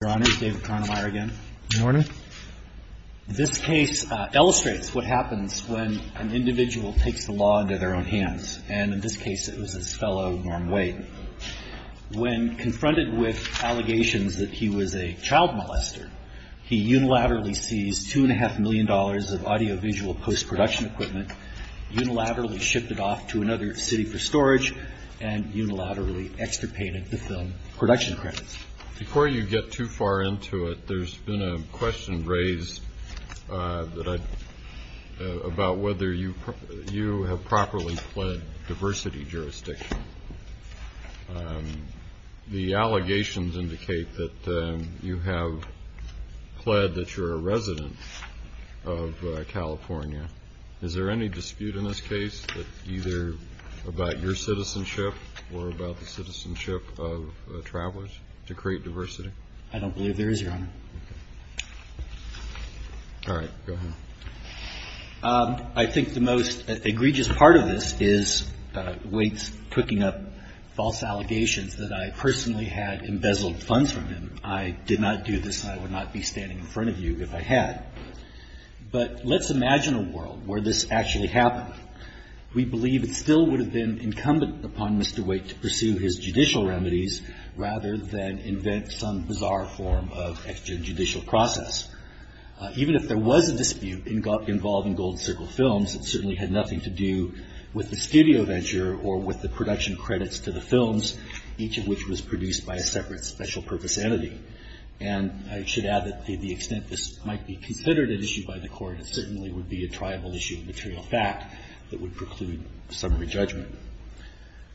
Your Honor, David Cronenmaier again. Your Honor. This case illustrates what happens when an individual takes the law into their own hands, and in this case it was his fellow Norm Wade. When confronted with allegations that he was a child molester, he unilaterally seized $2.5 million of audio-visual post-production equipment, unilaterally shipped it off to another city for storage, and unilaterally extirpated the film production credits. Before you get too far into it, there's been a question raised about whether you have properly pled diversity jurisdiction. The allegations indicate that you have pled that you're a resident of California. Is there any dispute in this case that either about your citizenship or about the citizenship of travelers to create diversity? I don't believe there is, Your Honor. Okay. All right. Go ahead. I think the most egregious part of this is Wade's cooking up false allegations that I personally had embezzled funds from him. I did not do this, and I would not be standing in front of you if I had. But let's imagine a world where this actually happened. We believe it still would have been incumbent upon Mr. Wade to pursue his judicial remedies rather than invent some bizarre form of extrajudicial process. Even if there was a dispute involving Gold Circle Films, it certainly had nothing to do with the studio venture or with the production credits to the films, each of which was produced by a separate special purpose entity. And I should add that to the extent this might be considered an issue by the court, it certainly would be a tribal issue of material fact that would preclude summary judgment.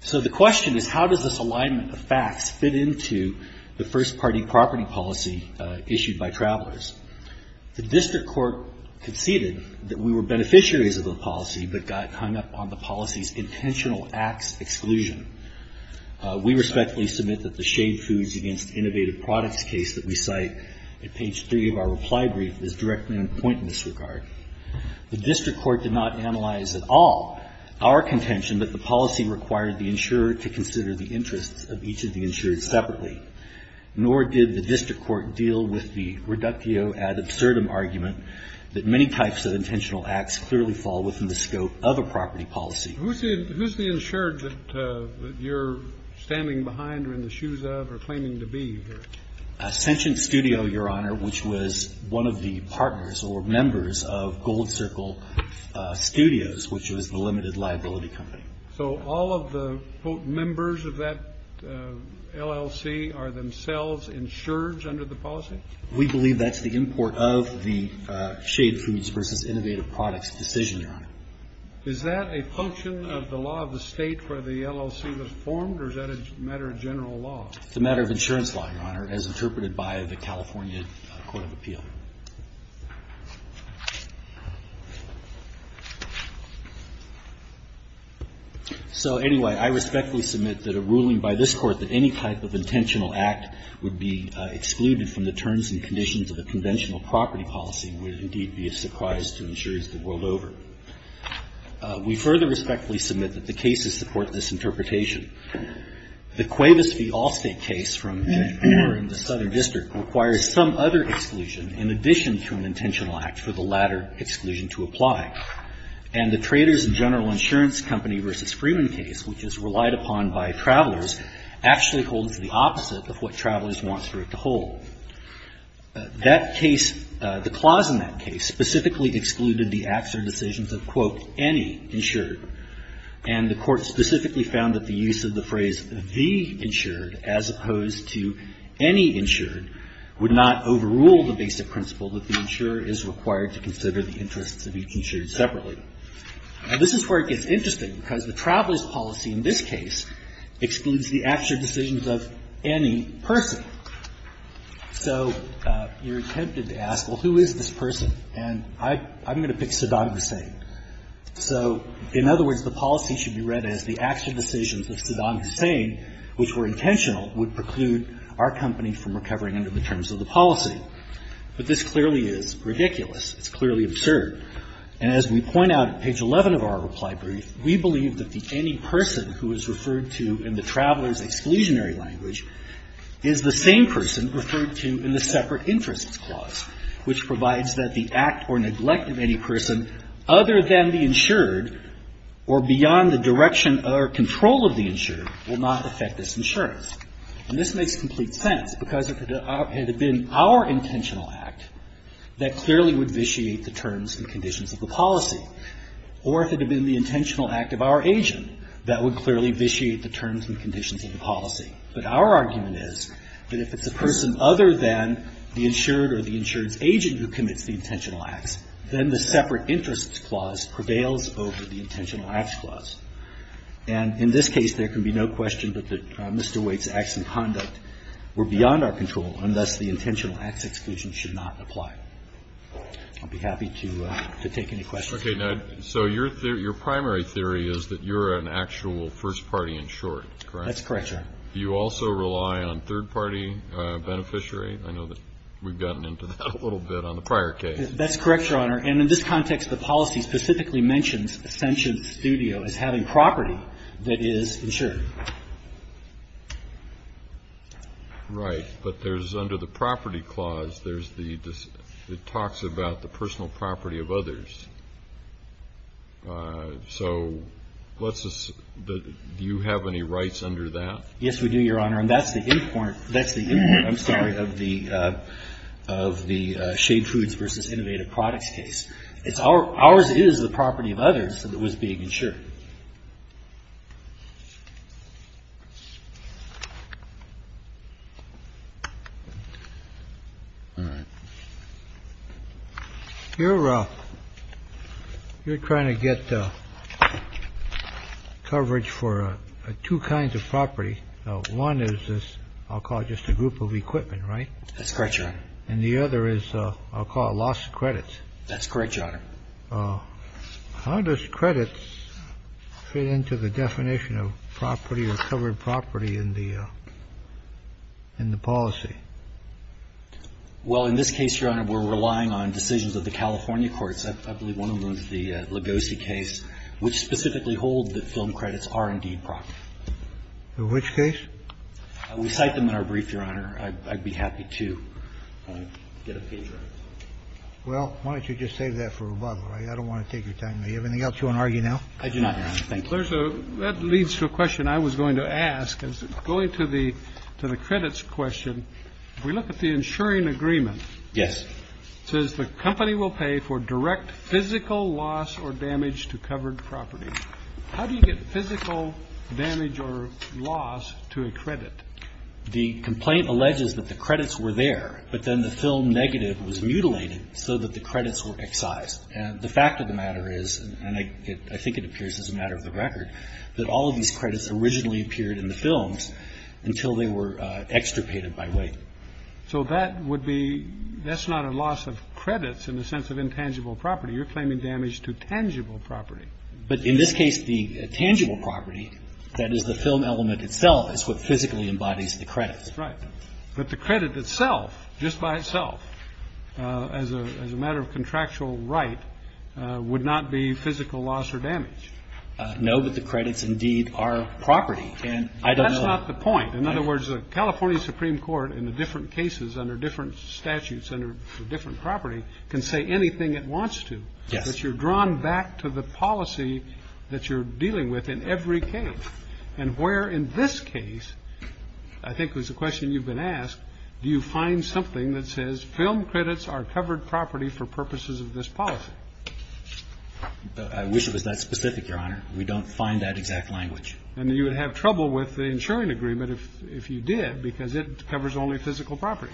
So the question is, how does this alignment of facts fit into the first-party property policy issued by travelers? The district court conceded that we were beneficiaries of the policy but got hung up on the policy's intentional ax exclusion. We respectfully submit that the Shaved Foods Against Innovative Products case that we cite at page three of our reply brief is directly in point of disregard. The district court did not analyze at all our contention that the policy required the insurer to consider the interests of each of the insured separately, nor did the district court deal with the reductio ad absurdum argument that many types of intentional acts clearly fall within the scope of a property policy. Kennedy. Who's the insured that you're standing behind or in the shoes of or claiming to be here? A sentient studio, Your Honor, which was one of the partners or members of Gold Circle Studios, which was the limited liability company. So all of the members of that LLC are themselves insured under the policy? We believe that's the import of the Shaved Foods Versus Innovative Products decision, Your Honor. Is that a function of the law of the state where the LLC was formed, or is that a matter of general law? It's a matter of insurance law, Your Honor, as interpreted by the California Court of Appeal. So anyway, I respectfully submit that a ruling by this Court that any type of intentional act would be excluded from the terms and conditions of a conventional property policy would indeed be a surprise to insurers the world over. We further respectfully submit that the cases support this interpretation. The Cuevas v. Allstate case from January in the Southern District requires some other exclusion in addition to an intentional act for the latter exclusion to apply. And the Traders and General Insurance Company v. Freeman case, which is relied upon by travelers, actually holds the opposite of what travelers wants for it to hold. That case, the clause in that case specifically excluded the acts or decisions of, quote, any insured, and the Court specifically found that the use of the phrase, the insured, as opposed to any insured, would not overrule the basic principle that the insurer is required to consider the interests of each insured separately. Now, this is where it gets interesting, because the traveler's policy in this case excludes the acts or decisions of any person. So you're tempted to ask, well, who is this person? And I'm going to pick Saddam Hussein. So in other words, the policy should be read as the acts or decisions of Saddam Hussein, which were intentional, would preclude our company from recovering under the terms of the policy. But this clearly is ridiculous. It's clearly absurd. And as we point out at page 11 of our reply brief, we believe that the any person who is referred to in the traveler's exclusionary language is the same person referred to in the separate interests clause, which provides that the act or neglect of any person other than the insured or beyond the direction or control of the insured will not affect this insurance. And this makes complete sense, because if it had been our intentional act, that clearly would vitiate the terms and conditions of the policy. Or if it had been the intentional act of our agent, that would clearly vitiate the terms and conditions of the policy. But our argument is that if it's a person other than the insured or the insurance agent who commits the intentional acts, then the separate interests clause prevails over the intentional acts clause. And in this case, there can be no question but that Mr. Waite's acts and conduct were beyond our control, and thus the intentional acts exclusion should not apply. I'll be happy to take any questions. Okay. So your primary theory is that you're an actual first-party insured, correct? That's correct, Your Honor. Do you also rely on third-party beneficiary? I know that we've gotten into that a little bit on the prior case. That's correct, Your Honor. And in this context, the policy specifically mentions Ascension Studio as having property that is insured. Right. But there's, under the property clause, there's the, it talks about the personal property of others. So let's just, do you have any rights under that? Yes, we do, Your Honor. And that's the end point. That's the end point, I'm sorry, of the Shade Foods v. Innovative Products case. Ours is the property of others that was being insured. All right. You're trying to get coverage for two kinds of property. One is this, I'll call it just a group of equipment, right? That's correct, Your Honor. And the other is, I'll call it loss of credits. That's correct, Your Honor. How does credits fit into the definition of property or covered property in the policy? Well, in this case, Your Honor, we're relying on decisions of the California courts. I believe one of them is the Legosi case, which specifically hold that film credits are indeed property. In which case? We cite them in our brief, Your Honor. I'd be happy to get a page right. Well, why don't you just save that for rebuttal? I don't want to take your time. Do you have anything else you want to argue now? I do not, Your Honor. Thank you. That leads to a question I was going to ask. Going to the credits question, if we look at the insuring agreement. Yes. It says the company will pay for direct physical loss or damage to covered property. How do you get physical damage or loss to a credit? The complaint alleges that the credits were there, but then the film negative was mutilated so that the credits were excised. And the fact of the matter is, and I think it appears as a matter of the record, that all of these credits originally appeared in the films until they were extirpated by weight. So that would be that's not a loss of credits in the sense of intangible property. You're claiming damage to tangible property. But in this case, the tangible property, that is the film element itself, is what physically embodies the credits. Right. But the credit itself, just by itself, as a matter of contractual right, would not be physical loss or damage. No, but the credits indeed are property. And I don't know. That's not the point. In other words, the California Supreme Court in the different cases under different statutes under different property can say anything it wants to. Yes. But you're drawn back to the policy that you're dealing with in every case. And where in this case, I think it was a question you've been asked, do you find something that says film credits are covered property for purposes of this policy? I wish it was that specific, Your Honor. We don't find that exact language. And you would have trouble with the insuring agreement if you did because it covers only physical property.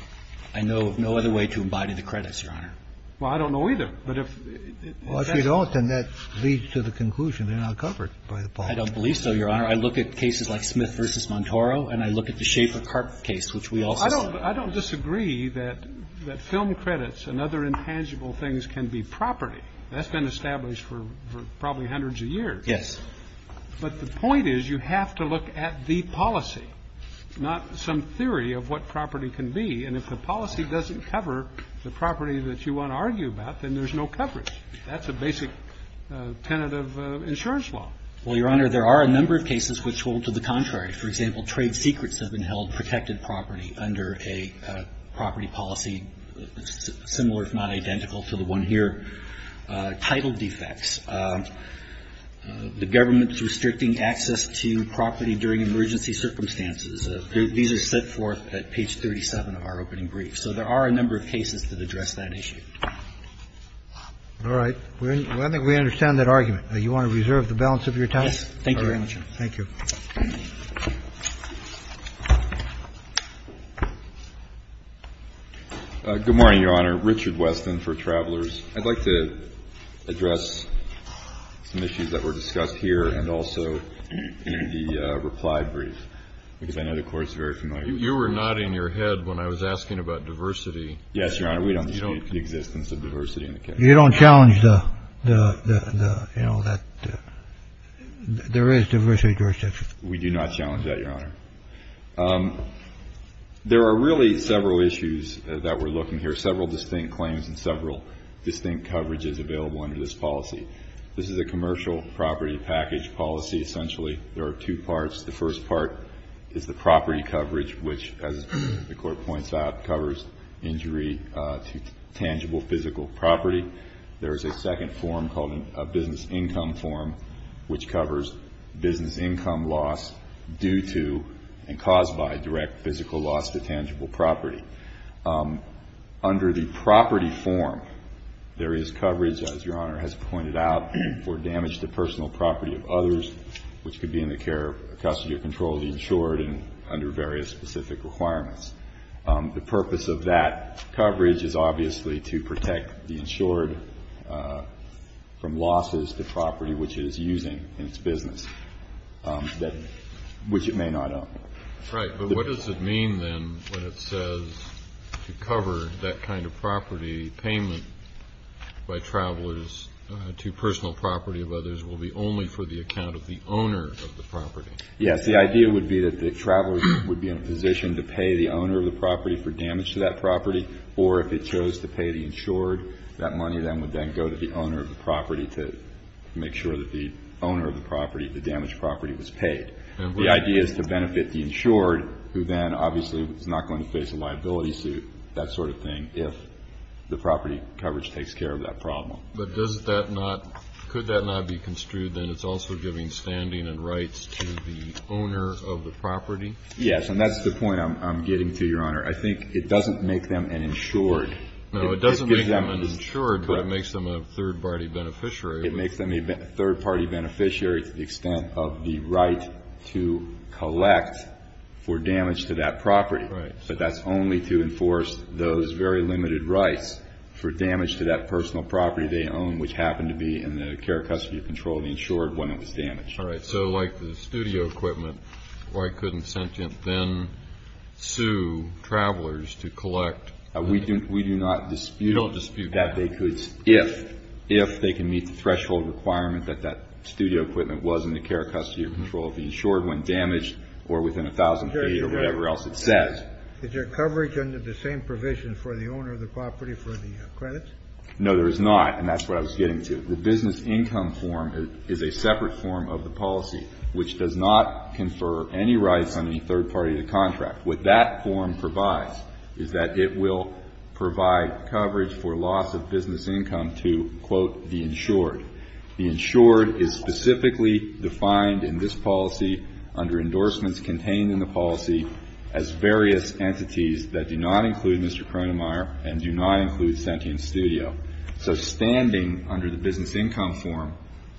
I know of no other way to embody the credits, Your Honor. Well, I don't know either. But if that's the case. Well, if you don't, then that leads to the conclusion they're not covered by the policy. I don't believe so, Your Honor. I look at cases like Smith v. Montoro, and I look at the Schaefer-Karp case, which we also saw. I don't disagree that film credits and other intangible things can be property. That's been established for probably hundreds of years. Yes. But the point is you have to look at the policy, not some theory of what property can be. And if the policy doesn't cover the property that you want to argue about, then there's no coverage. That's a basic tenet of insurance law. Well, Your Honor, there are a number of cases which hold to the contrary. For example, trade secrets have been held protected property under a property policy similar, if not identical, to the one here, title defects. The government's restricting access to property during emergency circumstances. These are set forth at page 37 of our opening brief. So there are a number of cases that address that issue. All right. Well, I think we understand that argument. Do you want to reserve the balance of your time? Yes. Thank you very much, Your Honor. Thank you. Good morning, Your Honor. Richard Weston for Travelers. I'd like to address some issues that were discussed here and also in the reply brief. Because I know the Court's very familiar. You were nodding your head when I was asking about diversity. Yes, Your Honor. We don't dispute the existence of diversity in the case. You don't challenge the, you know, that there is diversity jurisdiction. We do not challenge that, Your Honor. There are really several issues that we're looking here, several distinct claims and several distinct coverages available under this policy. This is a commercial property package policy, essentially. There are two parts. The first part is the property coverage, which, as the Court points out, covers injury to tangible physical property. There is a second form called a business income form, which covers business income loss due to and caused by direct physical loss to tangible property. Under the property form, there is coverage, as Your Honor has pointed out, for damage to personal property of others, which could be in the care of custody or control of the insured under various specific requirements. The purpose of that coverage is obviously to protect the insured from losses, the property which it is using in its business, which it may not own. Right, but what does it mean, then, when it says to cover that kind of property payment by travelers to personal property of others will be only for the account of the owner of the property? Yes, the idea would be that the traveler would be in a position to pay the owner of the property for damage to that property, or if it chose to pay the insured, that money then would then go to the owner of the property to make sure that the owner of the property, the damaged property, was paid. The idea is to benefit the insured, who then obviously is not going to face a liability suit, that sort of thing, if the property coverage takes care of that problem. But does that not – could that not be construed, then, as also giving standing and rights to the owner of the property? Yes, and that's the point I'm getting to, Your Honor. I think it doesn't make them an insured. No, it doesn't make them an insured, but it makes them a third-party beneficiary. It makes them a third-party beneficiary to the extent of the right to collect for damage to that property. Right. But that's only to enforce those very limited rights for damage to that personal property they own, which happened to be in the care-custody control of the insured when it was damaged. All right. So like the studio equipment, why couldn't sentient then sue travelers to collect? We do not dispute that they could if, if they can meet the threshold requirement that that studio equipment was in the care-custody control of the insured when damaged or within a thousand feet or whatever else it says. Is there coverage under the same provision for the owner of the property for the credits? No, there is not, and that's what I was getting to. The business income form is a separate form of the policy which does not confer any rights on any third-party to contract. What that form provides is that it will provide coverage for loss of business income to, quote, the insured. The insured is specifically defined in this policy under endorsements contained in the policy as various entities that do not include Mr. Cronenmaier and do not include Sentient Studio. So standing under the business income form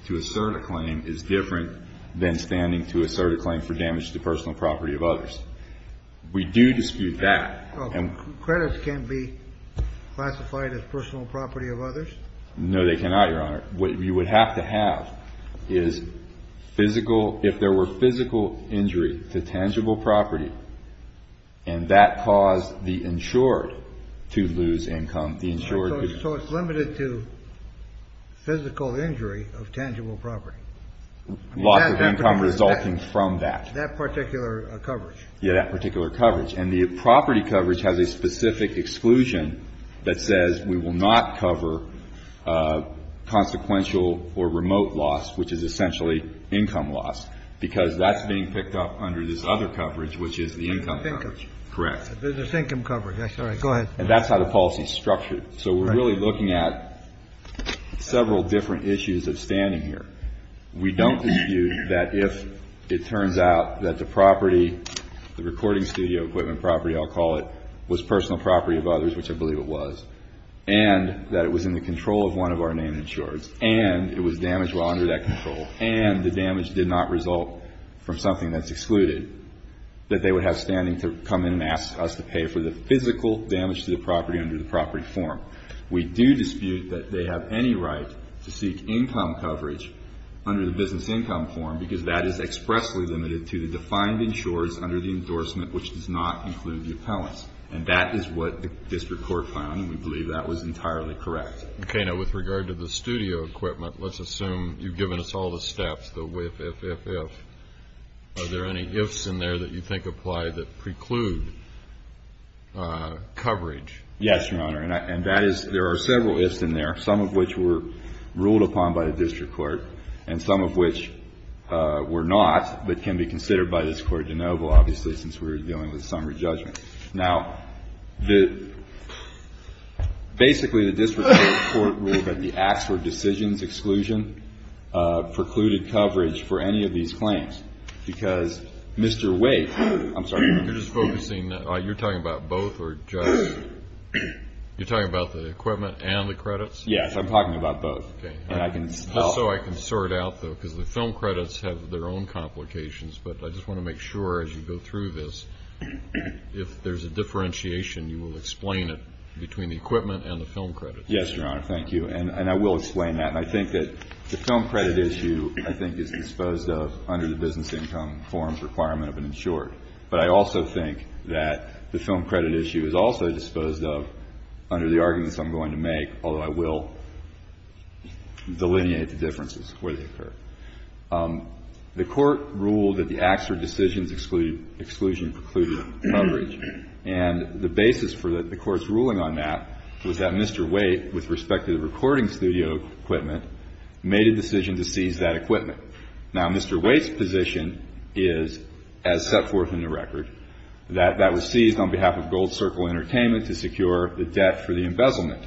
to assert a claim is different than standing to assert a claim for damage to personal property of others. We do dispute that. Well, credits can't be classified as personal property of others? No, they cannot, Your Honor. What you would have to have is physical, if there were physical injury to tangible property and that caused the insured to lose income, the insured would lose. So it's limited to physical injury of tangible property. Loss of income resulting from that. That particular coverage. Yeah, that particular coverage. And the property coverage has a specific exclusion that says we will not cover consequential or remote loss, which is essentially income loss, because that's being picked up under this other coverage, which is the income coverage. Correct. The business income coverage. That's right. Go ahead. And that's how the policy is structured. So we're really looking at several different issues of standing here. We don't dispute that if it turns out that the property, the recording studio equipment property, I'll call it, was personal property of others, which I believe it was, and that it was in the control of one of our named insureds, and it was damaged while under that control, and the damage did not result from something that's excluded, that they would have standing to come in and ask us to pay for the physical damage to the property under the property form. We do dispute that they have any right to seek income coverage under the business income form because that is expressly limited to the defined insurers under the endorsement, which does not include the appellants. And that is what the district court found, and we believe that was entirely correct. Okay. Now, with regard to the studio equipment, let's assume you've given us all the steps, the whiff, if, if, if. Are there any ifs in there that you think apply that preclude coverage? Yes, Your Honor. And that is, there are several ifs in there, some of which were ruled upon by the district court and some of which were not, but can be considered by this Court de novo, obviously, since we're dealing with summary judgment. Now, the, basically the district court ruled that the acts or decisions exclusion precluded coverage for any of these claims because Mr. Wake, I'm sorry. You're just focusing, you're talking about both or just, you're talking about the equipment and the credits? Yes. I'm talking about both. Okay. Just so I can sort out, though, because the film credits have their own complications, but I just want to make sure as you go through this, if there's a differentiation, you will explain it between the equipment and the film credits. Yes, Your Honor. Thank you. And I will explain that, and I think that the film credit issue, I think, is disposed of under the business income forms requirement of an insured. But I also think that the film credit issue is also disposed of under the arguments I'm going to make, although I will delineate the differences where they occur. The Court ruled that the acts or decisions exclusion precluded coverage, and the basis for the Court's ruling on that was that Mr. Wake, with respect to the recording studio equipment, made a decision to seize that equipment. Now, Mr. Wake's position is, as set forth in the record, that that was seized on behalf of Gold Circle Entertainment to secure the debt for the embezzlement.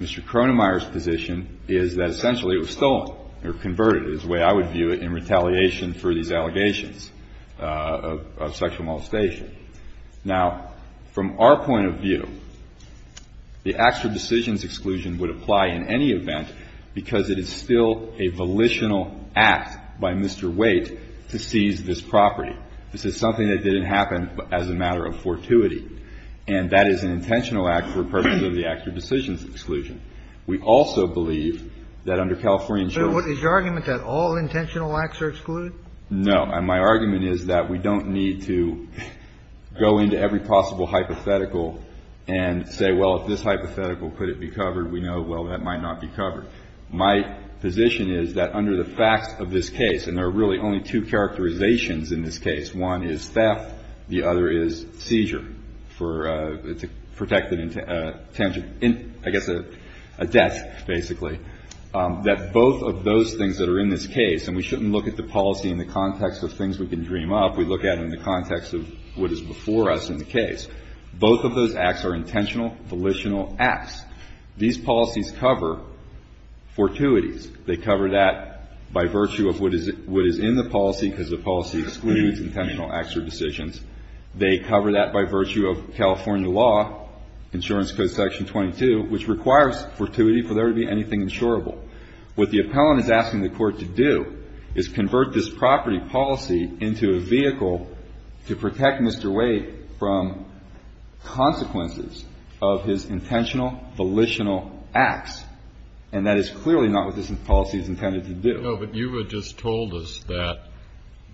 Mr. Cronemeyer's position is that essentially it was stolen or converted, is the way I would view it, in retaliation for these allegations of sexual molestation. Now, from our point of view, the acts or decisions exclusion would apply in any event because it is still a volitional act by Mr. Wake to seize this property. This is something that didn't happen as a matter of fortuity, and that is an intentional act for purposes of the acts or decisions exclusion. We also believe that under California insurance ---- Kennedy, is your argument that all intentional acts are excluded? No. And my argument is that we don't need to go into every possible hypothetical and say, well, if this hypothetical, could it be covered? We know, well, that might not be covered. My position is that under the facts of this case, and there are really only two characterizations in this case, one is theft, the other is seizure for a protected intention, I guess a death, basically, that both of those things that are in this case, and we shouldn't look at the policy in the context of things we can dream up. We look at it in the context of what is before us in the case. Both of those acts are intentional, volitional acts. These policies cover fortuities. They cover that by virtue of what is in the policy, because the policy excludes intentional acts or decisions. They cover that by virtue of California law, insurance code section 22, which requires fortuity for there to be anything insurable. What the appellant is asking the court to do is convert this property policy into a vehicle to protect Mr. Wade from consequences of his intentional, volitional acts. And that is clearly not what this policy is intended to do. No, but you had just told us that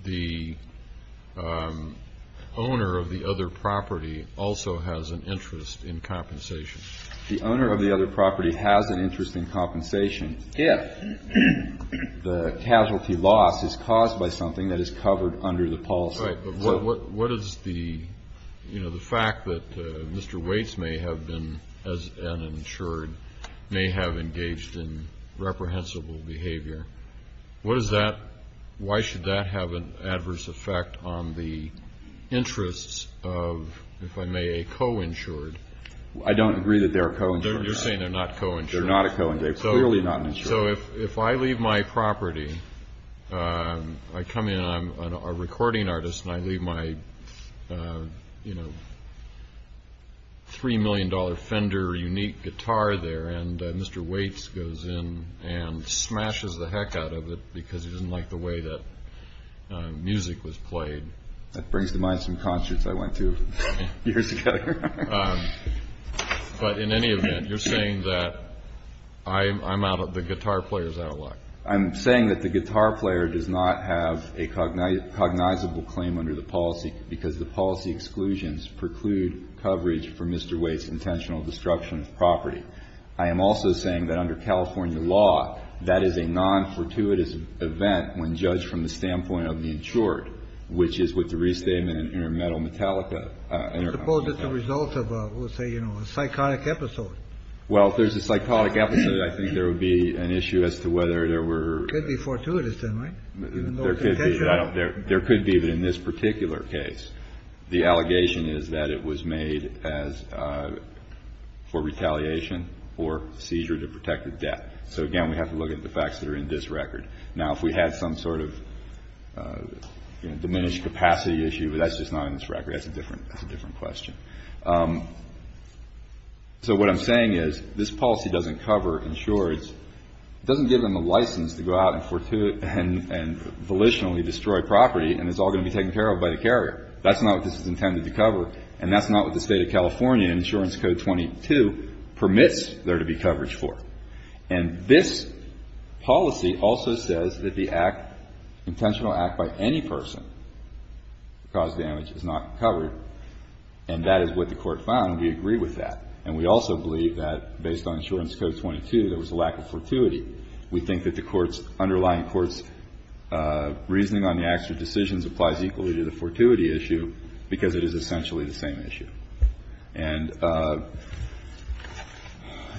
the owner of the other property also has an interest in compensation. The owner of the other property has an interest in compensation. If the casualty loss is caused by something that is covered under the policy. Right. But what is the, you know, the fact that Mr. Waits may have been, as an insured, may have engaged in reprehensible behavior, what does that, why should that have an adverse effect on the interests of, if I may, a co-insured? I don't agree that they're a co-insured. You're saying they're not co-insured. They're not a co-insured. They're clearly not an insured. So if I leave my property, I come in, I'm a recording artist, and I leave my, you know, $3 million Fender unique guitar there, and Mr. Waits goes in and smashes the heck out of it because he doesn't like the way that music was played. That brings to mind some concerts I went to years ago. But in any event, you're saying that I'm out of, the guitar player's out of luck. I'm saying that the guitar player does not have a cognizable claim under the policy because the policy exclusions preclude coverage for Mr. Waits' intentional destruction of property. I am also saying that under California law, that is a non-fortuitous event when judged from the standpoint of the insured, which is what the restatement in Intermetal Metallica. Suppose it's a result of, we'll say, you know, a psychotic episode. Well, if there's a psychotic episode, I think there would be an issue as to whether there were... It could be fortuitous then, right? There could be. There could be, but in this particular case, the allegation is that it was made as for retaliation or seizure to protect the debt. So, again, we have to look at the facts that are in this record. Now, if we had some sort of diminished capacity issue, that's just not in this record. That's a different question. So what I'm saying is this policy doesn't cover insureds. It doesn't give them a license to go out and volitionally destroy property and it's all going to be taken care of by the carrier. That's not what this is intended to cover, and that's not what the State of California Insurance Code 22 permits there to be coverage for. And this policy also says that the act, intentional act by any person to cause damage is not covered, and that is what the Court found. We agree with that. And we also believe that, based on Insurance Code 22, there was a lack of fortuity. We think that the Court's, underlying Court's reasoning on the acts or decisions applies equally to the fortuity issue because it is essentially the same issue. And I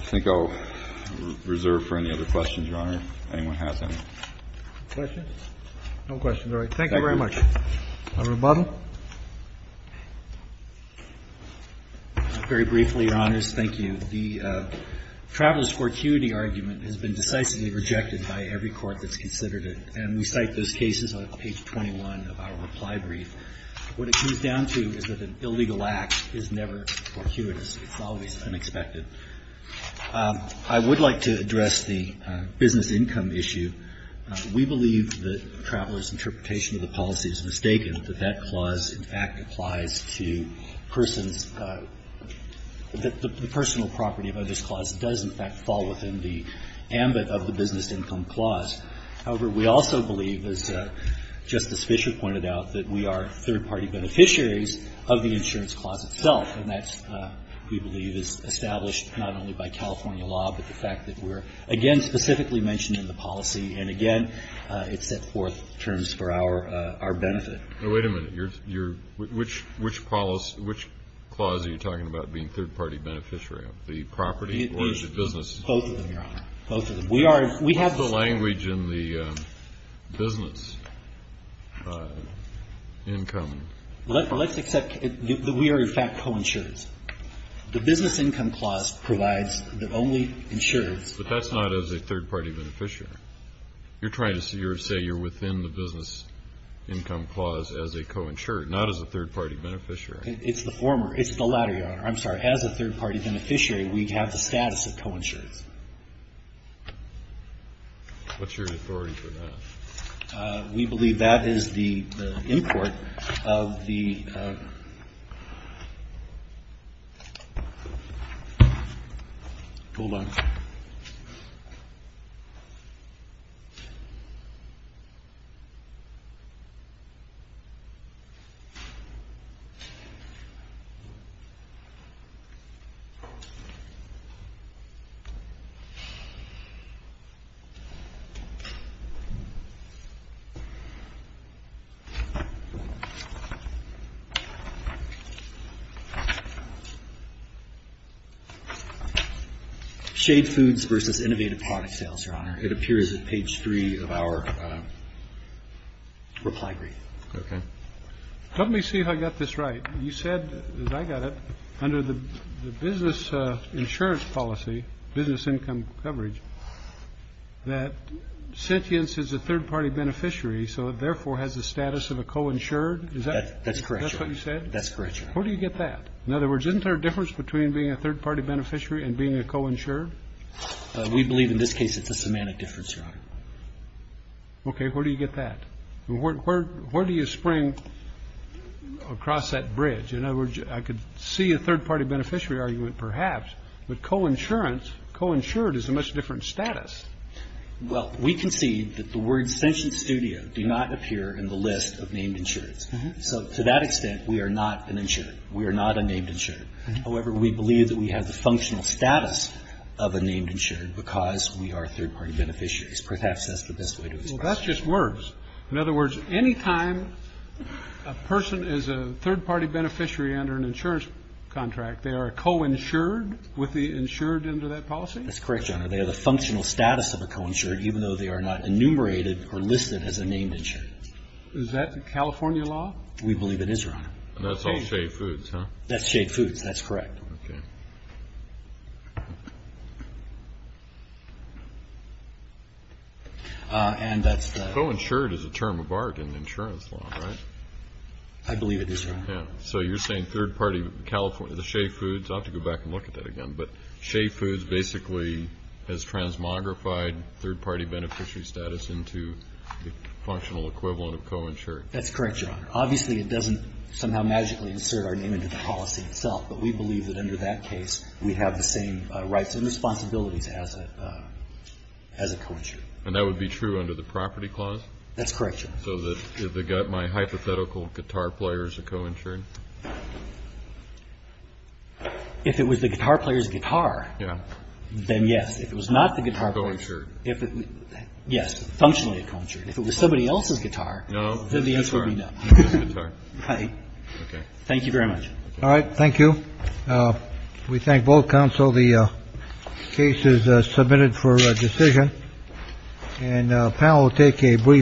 think I'll reserve for any other questions, Your Honor, if anyone has any. Questions? No questions. All right. Thank you very much. Thank you. Mr. Butler. Very briefly, Your Honors, thank you. The traveler's fortuity argument has been decisively rejected by every court that's considered it, and we cite those cases on page 21 of our reply brief. What it comes down to is that an illegal act is never fortuitous. It's always unexpected. I would like to address the business income issue. We believe that the traveler's interpretation of the policy is mistaken, that that clause in fact applies to persons, that the personal property of others clause does, in fact, fall within the ambit of the business income clause. However, we also believe, as Justice Fischer pointed out, that we are third-party beneficiaries of the insurance clause itself. And that, we believe, is established not only by California law, but the fact that we're, again, specifically mentioned in the policy. And, again, it set forth terms for our benefit. Now, wait a minute. Which clause are you talking about being third-party beneficiary? The property or the business? Both of them, Your Honor. Both of them. What's the language in the business income? Let's accept that we are, in fact, co-insurers. The business income clause provides that only insurers. But that's not as a third-party beneficiary. You're trying to say you're within the business income clause as a co-insurer, not as a third-party beneficiary. It's the former. It's the latter, Your Honor. I'm sorry. As a third-party beneficiary, we have the status of co-insurance. What's your authority for that? We believe that is the import of the. Hold on. Shade Foods versus Innovative Product Sales, Your Honor. It appears at page three of our reply brief. Okay. Let me see if I got this right. You said, as I got it, under the business insurance policy, business income coverage, that sentience is a third-party beneficiary, so it therefore has the status of a co-insured. Is that? That's correct, Your Honor. That's what you said? That's correct, Your Honor. Where do you get that? In other words, isn't there a difference between being a third-party beneficiary and being a co-insured? We believe in this case it's a semantic difference, Your Honor. Okay. Where do you get that? Where do you spring across that bridge? In other words, I could see a third-party beneficiary argument, perhaps, but co-insurance co-insured is a much different status. Well, we concede that the words sentience studio do not appear in the list of named insurance. So to that extent, we are not an insured. We are not a named insured. However, we believe that we have the functional status of a named insured because we are third-party beneficiaries. Perhaps that's the best way to express it. Well, that's just words. In other words, any time a person is a third-party beneficiary under an insurance contract, they are co-insured with the insured under that policy? That's correct, Your Honor. They have the functional status of a co-insured, even though they are not enumerated or listed as a named insured. Is that California law? We believe it is, Your Honor. That's all Shade Foods, huh? That's Shade Foods. That's correct. Co-insured is a term of art in insurance law, right? I believe it is, Your Honor. So you're saying third-party California, the Shade Foods, I'll have to go back and look at that again. But Shade Foods basically has transmogrified third-party beneficiary status into the functional equivalent of co-insured. That's correct, Your Honor. Obviously, it doesn't somehow magically insert our name into the policy itself. But we believe that under that case, we have the same rights and responsibilities as a co-insured. And that would be true under the property clause? That's correct, Your Honor. So my hypothetical guitar player is a co-insured? If it was the guitar player's guitar, then yes. If it was not the guitar player's, yes, functionally a co-insured. If it was somebody else's guitar, then the answer would be no. Thank you very much. All right. Thank you. We thank both counsel. The case is submitted for decision. And the panel will take a brief.